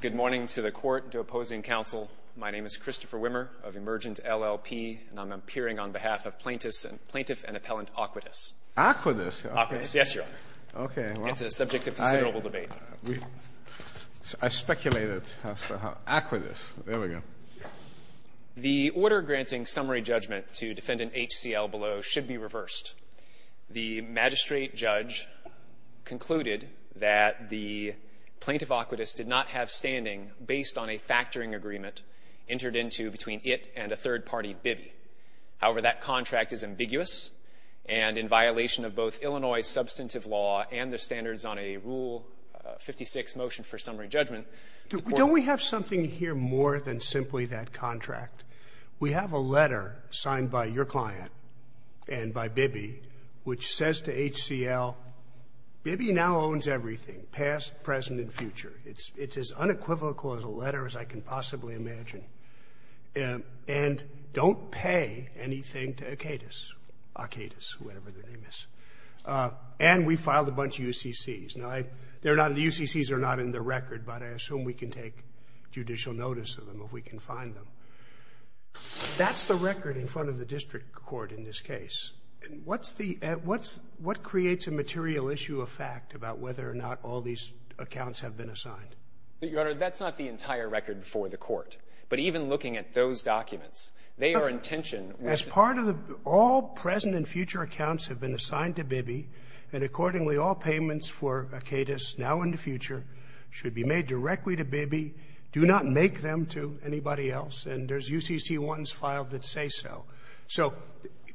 Good morning to the Court, to opposing counsel. My name is Christopher Wimmer of Emergent LLP, and I'm appearing on behalf of Plaintiff and Appellant AeQuadis. AeQuadis? AeQuadis, yes, Your Honor. Okay. It's a subject of considerable debate. I speculated as to how. AeQuadis. There we go. The magistrate judge concluded that the plaintiff, AeQuadis, did not have standing based on a factoring agreement entered into between it and a third-party Bibi. However, that contract is ambiguous and in violation of both Illinois substantive law and the standards on a Rule 56 motion for summary judgment. Don't we have something here more than simply that contract? We have a letter signed by your client and by Bibi which says to HCL, Bibi now owns everything, past, present, and future. It's as unequivocal as a letter as I can possibly imagine. And don't pay anything to AeQuadis, AeQuadis, whatever the name is. And we filed a bunch of UCCs. The UCCs are not in the record, but I assume we can take judicial notice of them if we can find them. That's the record in front of the district court in this case. What creates a material issue of fact about whether or not all these accounts have been assigned? Your Honor, that's not the entire record for the court. But even looking at those documents, they are in tension. As part of the all present and future accounts have been assigned to Bibi, and accordingly all payments for AeQuadis now and in the future should be made directly to Bibi. Do not make them to anybody else. And there's UCC1s filed that say so. So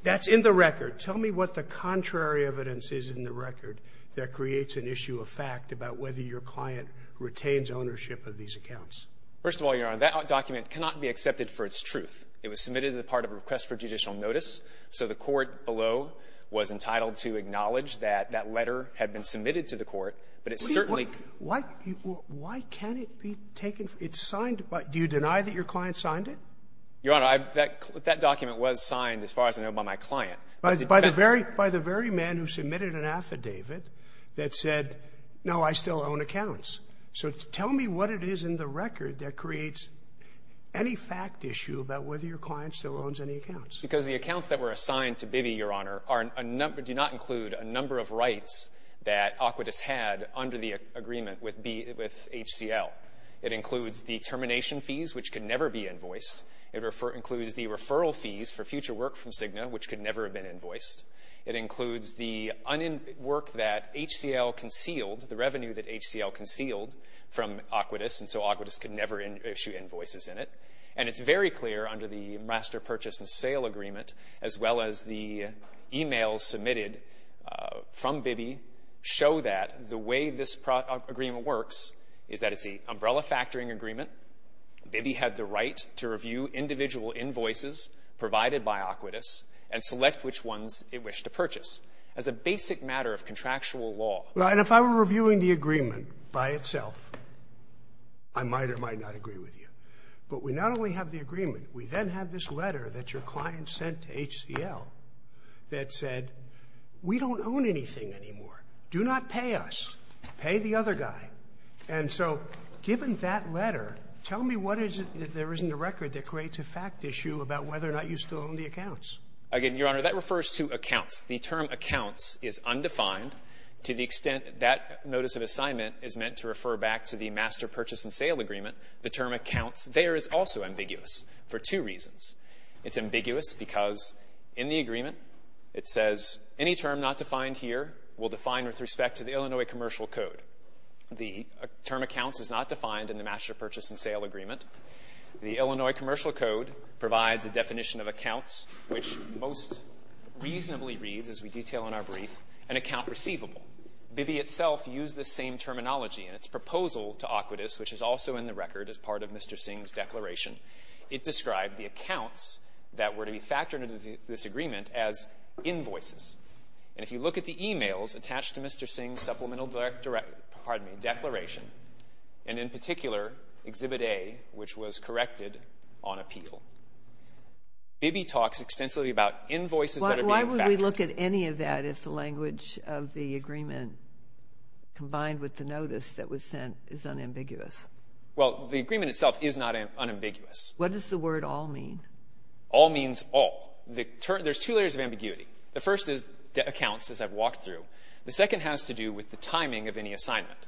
that's in the record. Tell me what the contrary evidence is in the record that creates an issue of fact about whether your client retains ownership of these accounts. First of all, Your Honor, that document cannot be accepted for its truth. It was submitted as part of a request for judicial notice. So the court below was entitled to acknowledge that that letter had been submitted to the court, but it certainly can't. Why can't it be taken? It's signed. Do you deny that your client signed it? Your Honor, that document was signed, as far as I know, by my client. By the very man who submitted an affidavit that said, no, I still own accounts. So tell me what it is in the record that creates any fact issue about whether your client still owns any accounts. Because the accounts that were assigned to Bibi, Your Honor, do not include a number of rights that AeQuadis had under the agreement with HCL. It includes the termination fees, which could never be invoiced. It includes the referral fees for future work from Cigna, which could never have been invoiced. It includes the work that HCL concealed, the revenue that HCL concealed from AeQuadis, and so AeQuadis could never issue invoices in it. And it's very clear under the Master Purchase and Sale Agreement, as well as the e-mails submitted from Bibi, show that the way this agreement works is that it's an umbrella factoring agreement. Bibi had the right to review individual invoices provided by AeQuadis and select which ones it wished to purchase as a basic matter of contractual law. And if I were reviewing the agreement by itself, I might or might not agree with you. But we not only have the agreement, we then have this letter that your client sent to HCL that said, we don't own anything anymore. Do not pay us. Pay the other guy. And so given that letter, tell me what is it that there is in the record that creates a fact issue about whether or not you still own the accounts. Again, Your Honor, that refers to accounts. The term accounts is undefined to the extent that notice of assignment is meant to refer back to the Master Purchase and Sale Agreement. The term accounts there is also ambiguous for two reasons. It's ambiguous because in the agreement it says any term not defined here will define with respect to the Illinois Commercial Code. The term accounts is not defined in the Master Purchase and Sale Agreement. The Illinois Commercial Code provides a definition of accounts, which most reasonably reads, as we detail in our brief, an account receivable. Bivey itself used this same terminology in its proposal to AeQuadis, which is also in the record as part of Mr. Singh's declaration. It described the accounts that were to be factored into this agreement as invoices. And if you look at the e-mails attached to Mr. Singh's supplemental declaration, and in particular, Exhibit A, which was corrected on appeal, Bivey talks extensively about invoices that are being factored. Why would we look at any of that if the language of the agreement combined with the notice that was sent is unambiguous? Well, the agreement itself is not unambiguous. What does the word all mean? All means all. Well, there's two layers of ambiguity. The first is accounts, as I've walked through. The second has to do with the timing of any assignment.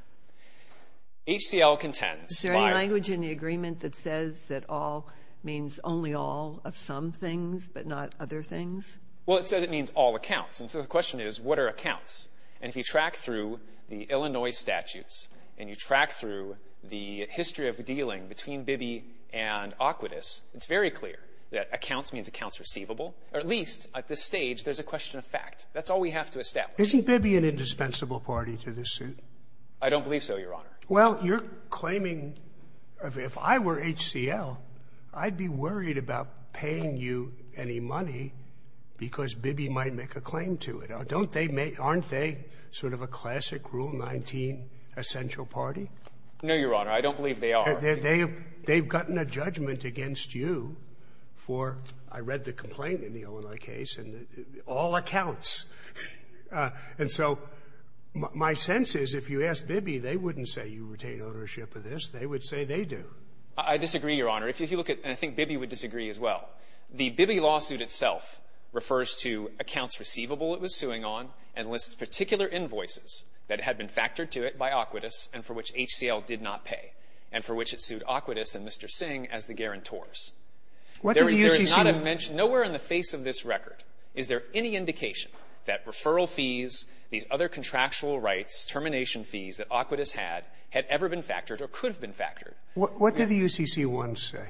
HCL contends by— Is there any language in the agreement that says that all means only all of some things, but not other things? Well, it says it means all accounts. And so the question is, what are accounts? And if you track through the Illinois statutes, and you track through the history of dealing between Bivey and AeQuadis, it's very clear that accounts means accounts receivable, or at least at this stage there's a question of fact. That's all we have to establish. Isn't Bivey an indispensable party to this suit? I don't believe so, Your Honor. Well, you're claiming if I were HCL, I'd be worried about paying you any money because Bivey might make a claim to it. Don't they make — aren't they sort of a classic Rule 19 essential party? No, Your Honor. I don't believe they are. They've gotten a judgment against you for, I read the complaint in the Illinois case, and all accounts. And so my sense is if you ask Bivey, they wouldn't say you retain ownership of this. They would say they do. I disagree, Your Honor. If you look at — and I think Bivey would disagree as well. The Bivey lawsuit itself refers to accounts receivable it was suing on and lists particular invoices that had been factored to it by AeQuadis and for which HCL did not pay and for which it sued AeQuadis and Mr. Singh as the guarantors. What did the UCC — There is not a mention — nowhere in the face of this record is there any indication that referral fees, these other contractual rights, termination fees that AeQuadis had, had ever been factored or could have been factored. What did the UCC-1s say?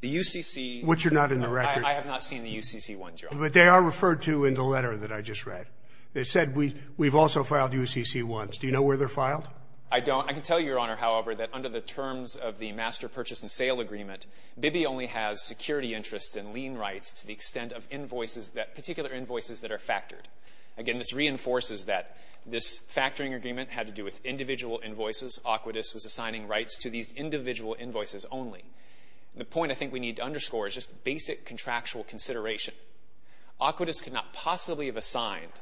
The UCC — Which are not in the record. I have not seen the UCC-1s, Your Honor. But they are referred to in the letter that I just read. It said we've also filed UCC-1s. Do you know where they're filed? I don't. I can tell you, Your Honor, however, that under the terms of the Master Purchase and Sale Agreement, Bivey only has security interests and lien rights to the extent of invoices that — particular invoices that are factored. Again, this reinforces that this factoring agreement had to do with individual invoices. AeQuadis was assigning rights to these individual invoices only. The point I think we need to underscore is just basic contractual consideration. AeQuadis could not possibly have assigned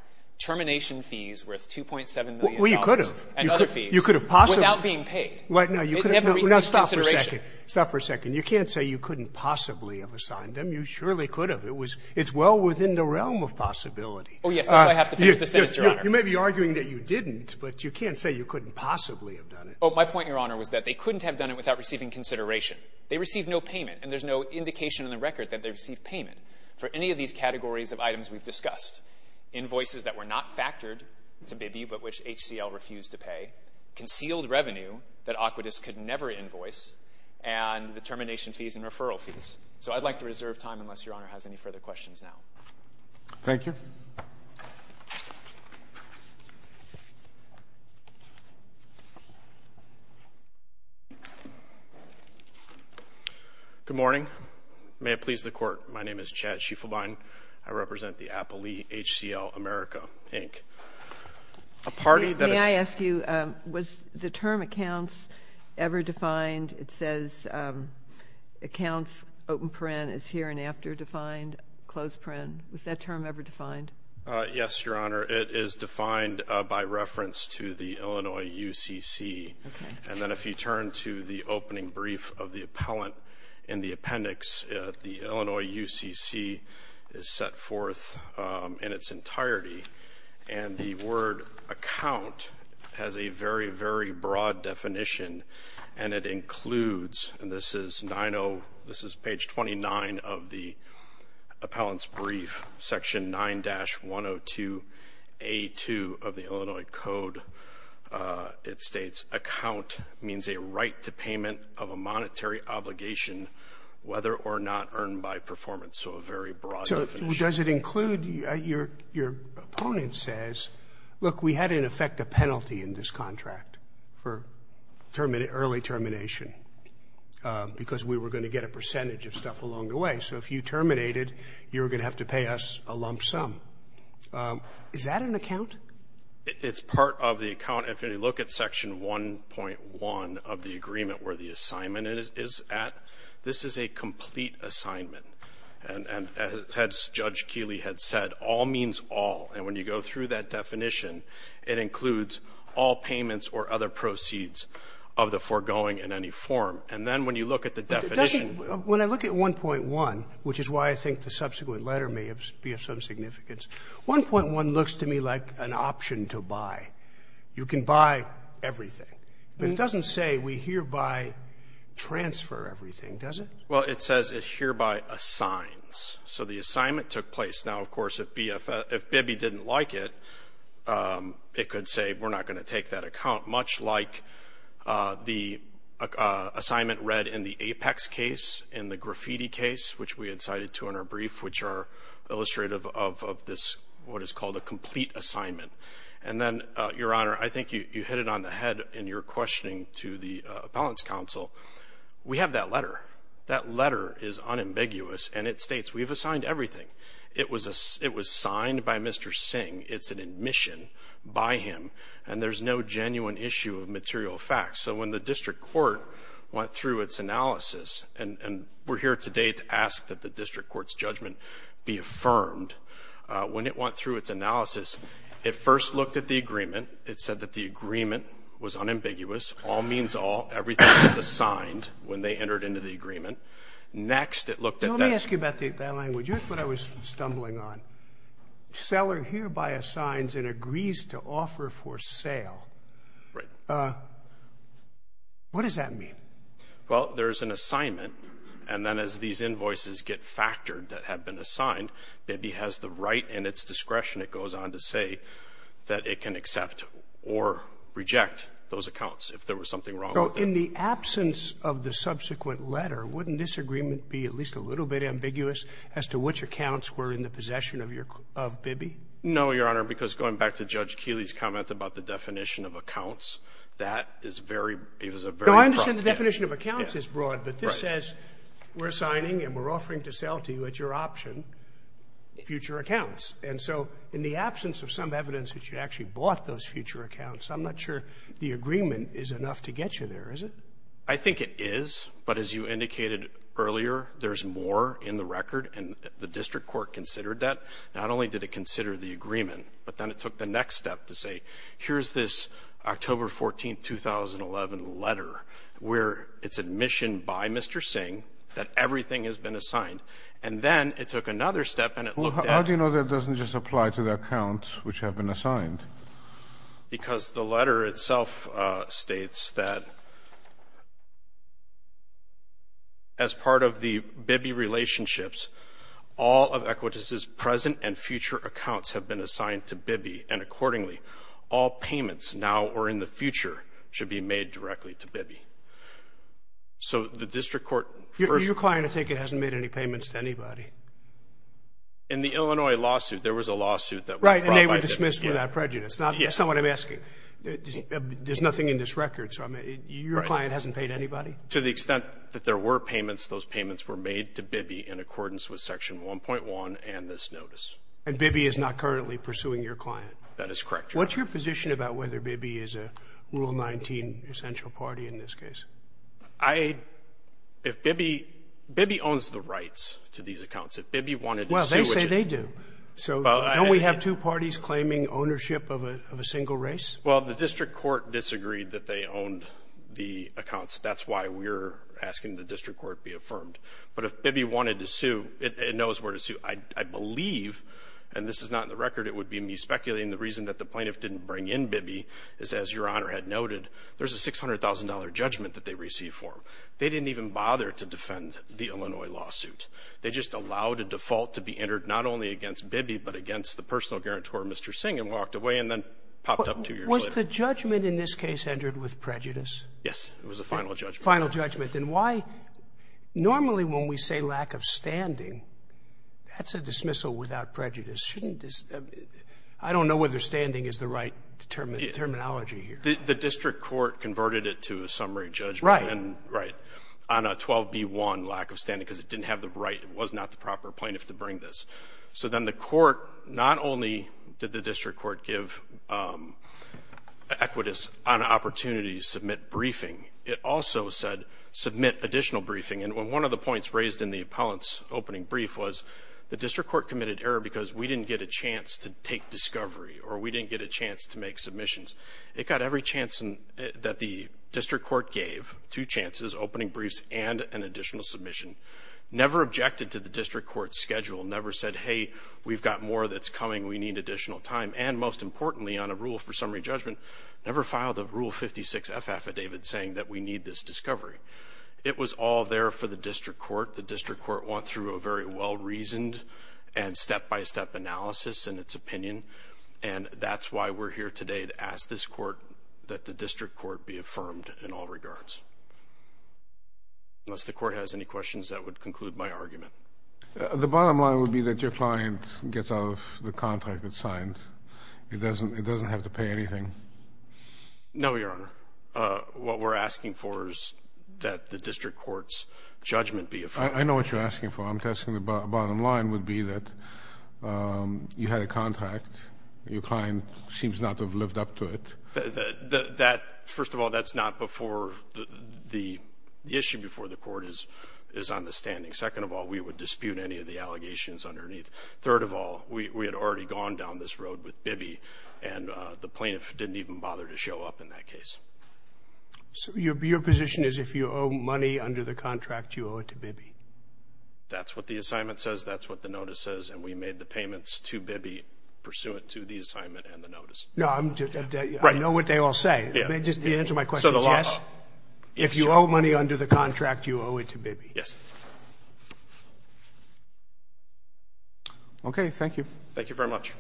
termination fees worth $2.7 million — Well, you could have. And other fees. You could have possibly — Without being paid. It never reached this consideration. Stop for a second. Stop for a second. You can't say you couldn't possibly have assigned them. You surely could have. It was — it's well within the realm of possibility. Oh, yes. That's why I have to finish this sentence, Your Honor. You may be arguing that you didn't, but you can't say you couldn't possibly have done it. Oh, my point, Your Honor, was that they couldn't have done it without receiving consideration. They received no payment, and there's no indication in the record that they received payment for any of these categories of items we've discussed, invoices that were not factored to Bibi, but which HCL refused to pay, concealed revenue that AeQuadis could never invoice, and the termination fees and referral fees. So I'd like to reserve time unless Your Honor has any further questions now. Thank you. Good morning. May it please the Court, my name is Chad Schiefelbein. I represent the Appalee HCL America, Inc. A party that — May I ask you, was the term accounts ever defined? It says accounts, open paren, is here and after defined, closed paren. Was that term ever defined? Yes, Your Honor. It is defined by reference to the Illinois UCC. Okay. And then if you turn to the opening brief of the appellant in the appendix, the Illinois UCC is set forth in its entirety, and the word account has a very, very broad definition, and it includes — and this is page 29 of the appellant's brief, section 9-102A2 of the Illinois Code. It states, account means a right to payment of a monetary obligation, whether or not earned by performance, so a very broad definition. So does it include — your opponent says, look, we had, in effect, a penalty in this contract for early termination because we were going to get a percentage of stuff along the way. So if you terminated, you were going to have to pay us a lump sum. Is that an account? It's part of the account. If you look at section 1.1 of the agreement where the assignment is at, this is a complete assignment, and as Judge Keeley had said, all means all, and when you go through that definition, it includes all payments or other proceeds of the foregoing in any form. And then when you look at the definition — It doesn't — when I look at 1.1, which is why I think the subsequent letter may be of some significance, 1.1 looks to me like an option to buy. You can buy everything. It doesn't say we hereby transfer everything, does it? Well, it says it hereby assigns. So the assignment took place. Now, of course, if Bibi didn't like it, it could say we're not going to take that account, much like the assignment read in the Apex case, in the Graffiti case, which we had cited to in our brief, which are illustrative of this, what is called a complete assignment. And then, Your Honor, I think you hit it on the head in your questioning to the We have that letter. That letter is unambiguous, and it states we've assigned everything. It was signed by Mr. Singh. It's an admission by him, and there's no genuine issue of material facts. So when the district court went through its analysis — and we're here today to ask that the district court's judgment be affirmed. When it went through its analysis, it first looked at the agreement. It said that the agreement was unambiguous, all means all, everything was assigned when they entered into the agreement. Next, it looked at — Let me ask you about that language. Here's what I was stumbling on. Seller hereby assigns and agrees to offer for sale. Right. What does that mean? Well, there's an assignment, and then as these invoices get factored that have been assigned, Bibi has the right and its discretion, it goes on to say, that it can accept or reject those accounts if there was something wrong with it. So in the absence of the subsequent letter, wouldn't this agreement be at least a little bit ambiguous as to which accounts were in the possession of your — of Bibi? No, Your Honor, because going back to Judge Keeley's comment about the definition of accounts, that is very — it was a very broad — No, I understand the definition of accounts is broad, but this says we're signing and we're offering to sell to you at your option future accounts. And so in the absence of some evidence that you actually bought those future accounts, I'm not sure the agreement is enough to get you there, is it? I think it is. But as you indicated earlier, there's more in the record, and the district court considered that. Not only did it consider the agreement, but then it took the next step to say, here's this October 14th, 2011 letter where it's admission by Mr. Singh that everything has been assigned. And then it took another step and it looked at — Well, how do you know that doesn't just apply to the accounts which have been assigned? Because the letter itself states that as part of the Bibi relationships, all of Equitas' present and future accounts have been assigned to Bibi, and accordingly, all payments now or in the future should be made directly to Bibi. So the district court — Your client, I think, hasn't made any payments to anybody. In the Illinois lawsuit, there was a lawsuit that was brought by Bibi. It was dismissed without prejudice. That's not what I'm asking. There's nothing in this record. So your client hasn't paid anybody? To the extent that there were payments, those payments were made to Bibi in accordance with Section 1.1 and this notice. And Bibi is not currently pursuing your client? That is correct, Your Honor. What's your position about whether Bibi is a Rule 19 essential party in this case? I — if Bibi — Bibi owns the rights to these accounts. If Bibi wanted to — Well, they say they do. So don't we have two parties claiming ownership of a single race? Well, the district court disagreed that they owned the accounts. That's why we're asking the district court be affirmed. But if Bibi wanted to sue, it knows where to sue. I believe — and this is not in the record, it would be me speculating — the reason that the plaintiff didn't bring in Bibi is, as Your Honor had noted, there's a $600,000 judgment that they received for him. They didn't even bother to defend the Illinois lawsuit. They just allowed a default to be entered not only against Bibi, but against the personal guarantor, Mr. Singh, and walked away and then popped up two years later. Was the judgment in this case entered with prejudice? Yes. It was a final judgment. Final judgment. Then why — normally when we say lack of standing, that's a dismissal without prejudice. Shouldn't — I don't know whether standing is the right terminology here. The district court converted it to a summary judgment. Right. On a 12B1 lack of standing, because it didn't have the right — it was not the proper plaintiff to bring this. So then the court — not only did the district court give equitous on opportunity to submit briefing, it also said submit additional briefing. And one of the points raised in the appellant's opening brief was the district court committed error because we didn't get a chance to take discovery or we didn't get a chance to make submissions. It got every chance that the district court gave, two chances, opening briefs and an additional submission, never objected to the district court's schedule, never said, hey, we've got more that's coming, we need additional time, and most importantly, on a rule for summary judgment, never filed a Rule 56 affidavit saying that we need this discovery. It was all there for the district court. The district court went through a very well-reasoned and step-by-step analysis in its opinion. And that's why we're here today to ask this court that the district court be affirmed in all regards. Unless the court has any questions, that would conclude my argument. The bottom line would be that your client gets out of the contract that's signed. It doesn't have to pay anything. No, Your Honor. What we're asking for is that the district court's judgment be affirmed. I know what you're asking for. No, I'm asking the bottom line would be that you had a contract. Your client seems not to have lived up to it. First of all, that's not before the issue before the court is on the standing. Second of all, we would dispute any of the allegations underneath. Third of all, we had already gone down this road with Bibby, and the plaintiff didn't even bother to show up in that case. So your position is if you owe money under the contract, you owe it to Bibby? That's what the assignment says. That's what the notice says. And we made the payments to Bibby pursuant to the assignment and the notice. No, I know what they all say. Just answer my question. So the law? Yes. If you owe money under the contract, you owe it to Bibby. Yes. Okay. Thank you. Thank you very much.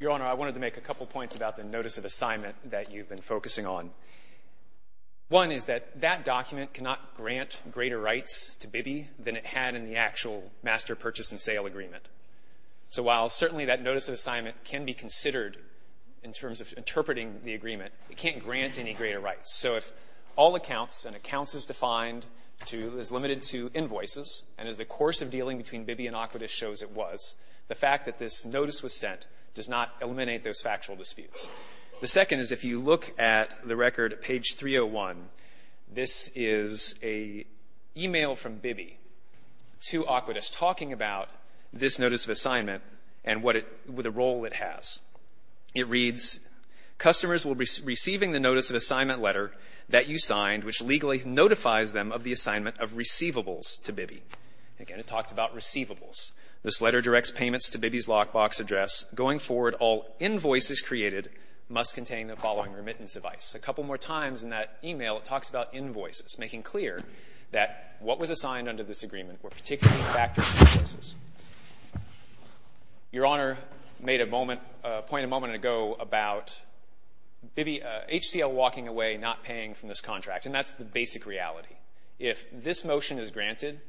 Your Honor, I wanted to make a couple points about the notice of assignment that you've been focusing on. One is that that document cannot grant greater rights to Bibby than it had in the actual Master Purchase and Sale Agreement. So while certainly that notice of assignment can be considered in terms of interpreting the agreement, it can't grant any greater rights. So if all accounts and accounts as defined to as limited to invoices, and as the course of dealing between Bibby and Aquidist shows it was, the fact that this notice was sent does not eliminate those factual disputes. The second is if you look at the record at page 301, this is an e-mail from Bibby to Aquidist talking about this notice of assignment and what it — what a role it has. It reads, "'Customers will be receiving the notice of assignment letter that you signed, which legally notifies them of the assignment of receivables to Bibby.'" Again, it talks about receivables. "'This letter directs payments to Bibby's lockbox address. Going forward, all invoices created must contain the following remittance device.'" A couple more times in that e-mail, it talks about invoices, making clear that what was assigned under this agreement were particularly factual invoices. Fisherman. Your Honor made a moment — a point a moment ago about Bibby — HCL walking away not paying from this contract, and that's the basic reality. If this motion is granted,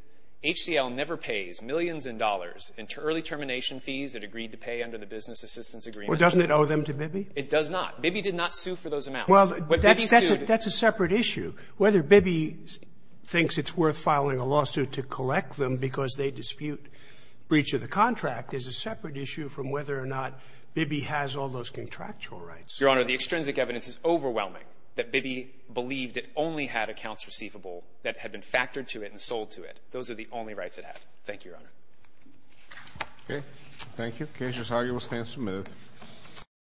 HCL never pays millions in dollars in early termination fees it agreed to pay under the Business Assistance Agreement. Scalia. Well, doesn't it owe them to Bibby? Fisherman. Bibby did not sue for those amounts. What Bibby sued — Scalia. Well, that's a separate issue. Whether Bibby thinks it's worth filing a lawsuit to collect them because they dispute breach of the contract is a separate issue from whether or not Bibby has all those contractual rights. Fisherman. Your Honor, the extrinsic evidence is overwhelming that Bibby believed it only had accounts receivable that had been factored to it and sold to it. Those are the only rights it had. Thank you, Your Honor. Roberts. Thank you. The case, as argued, will stand submitted.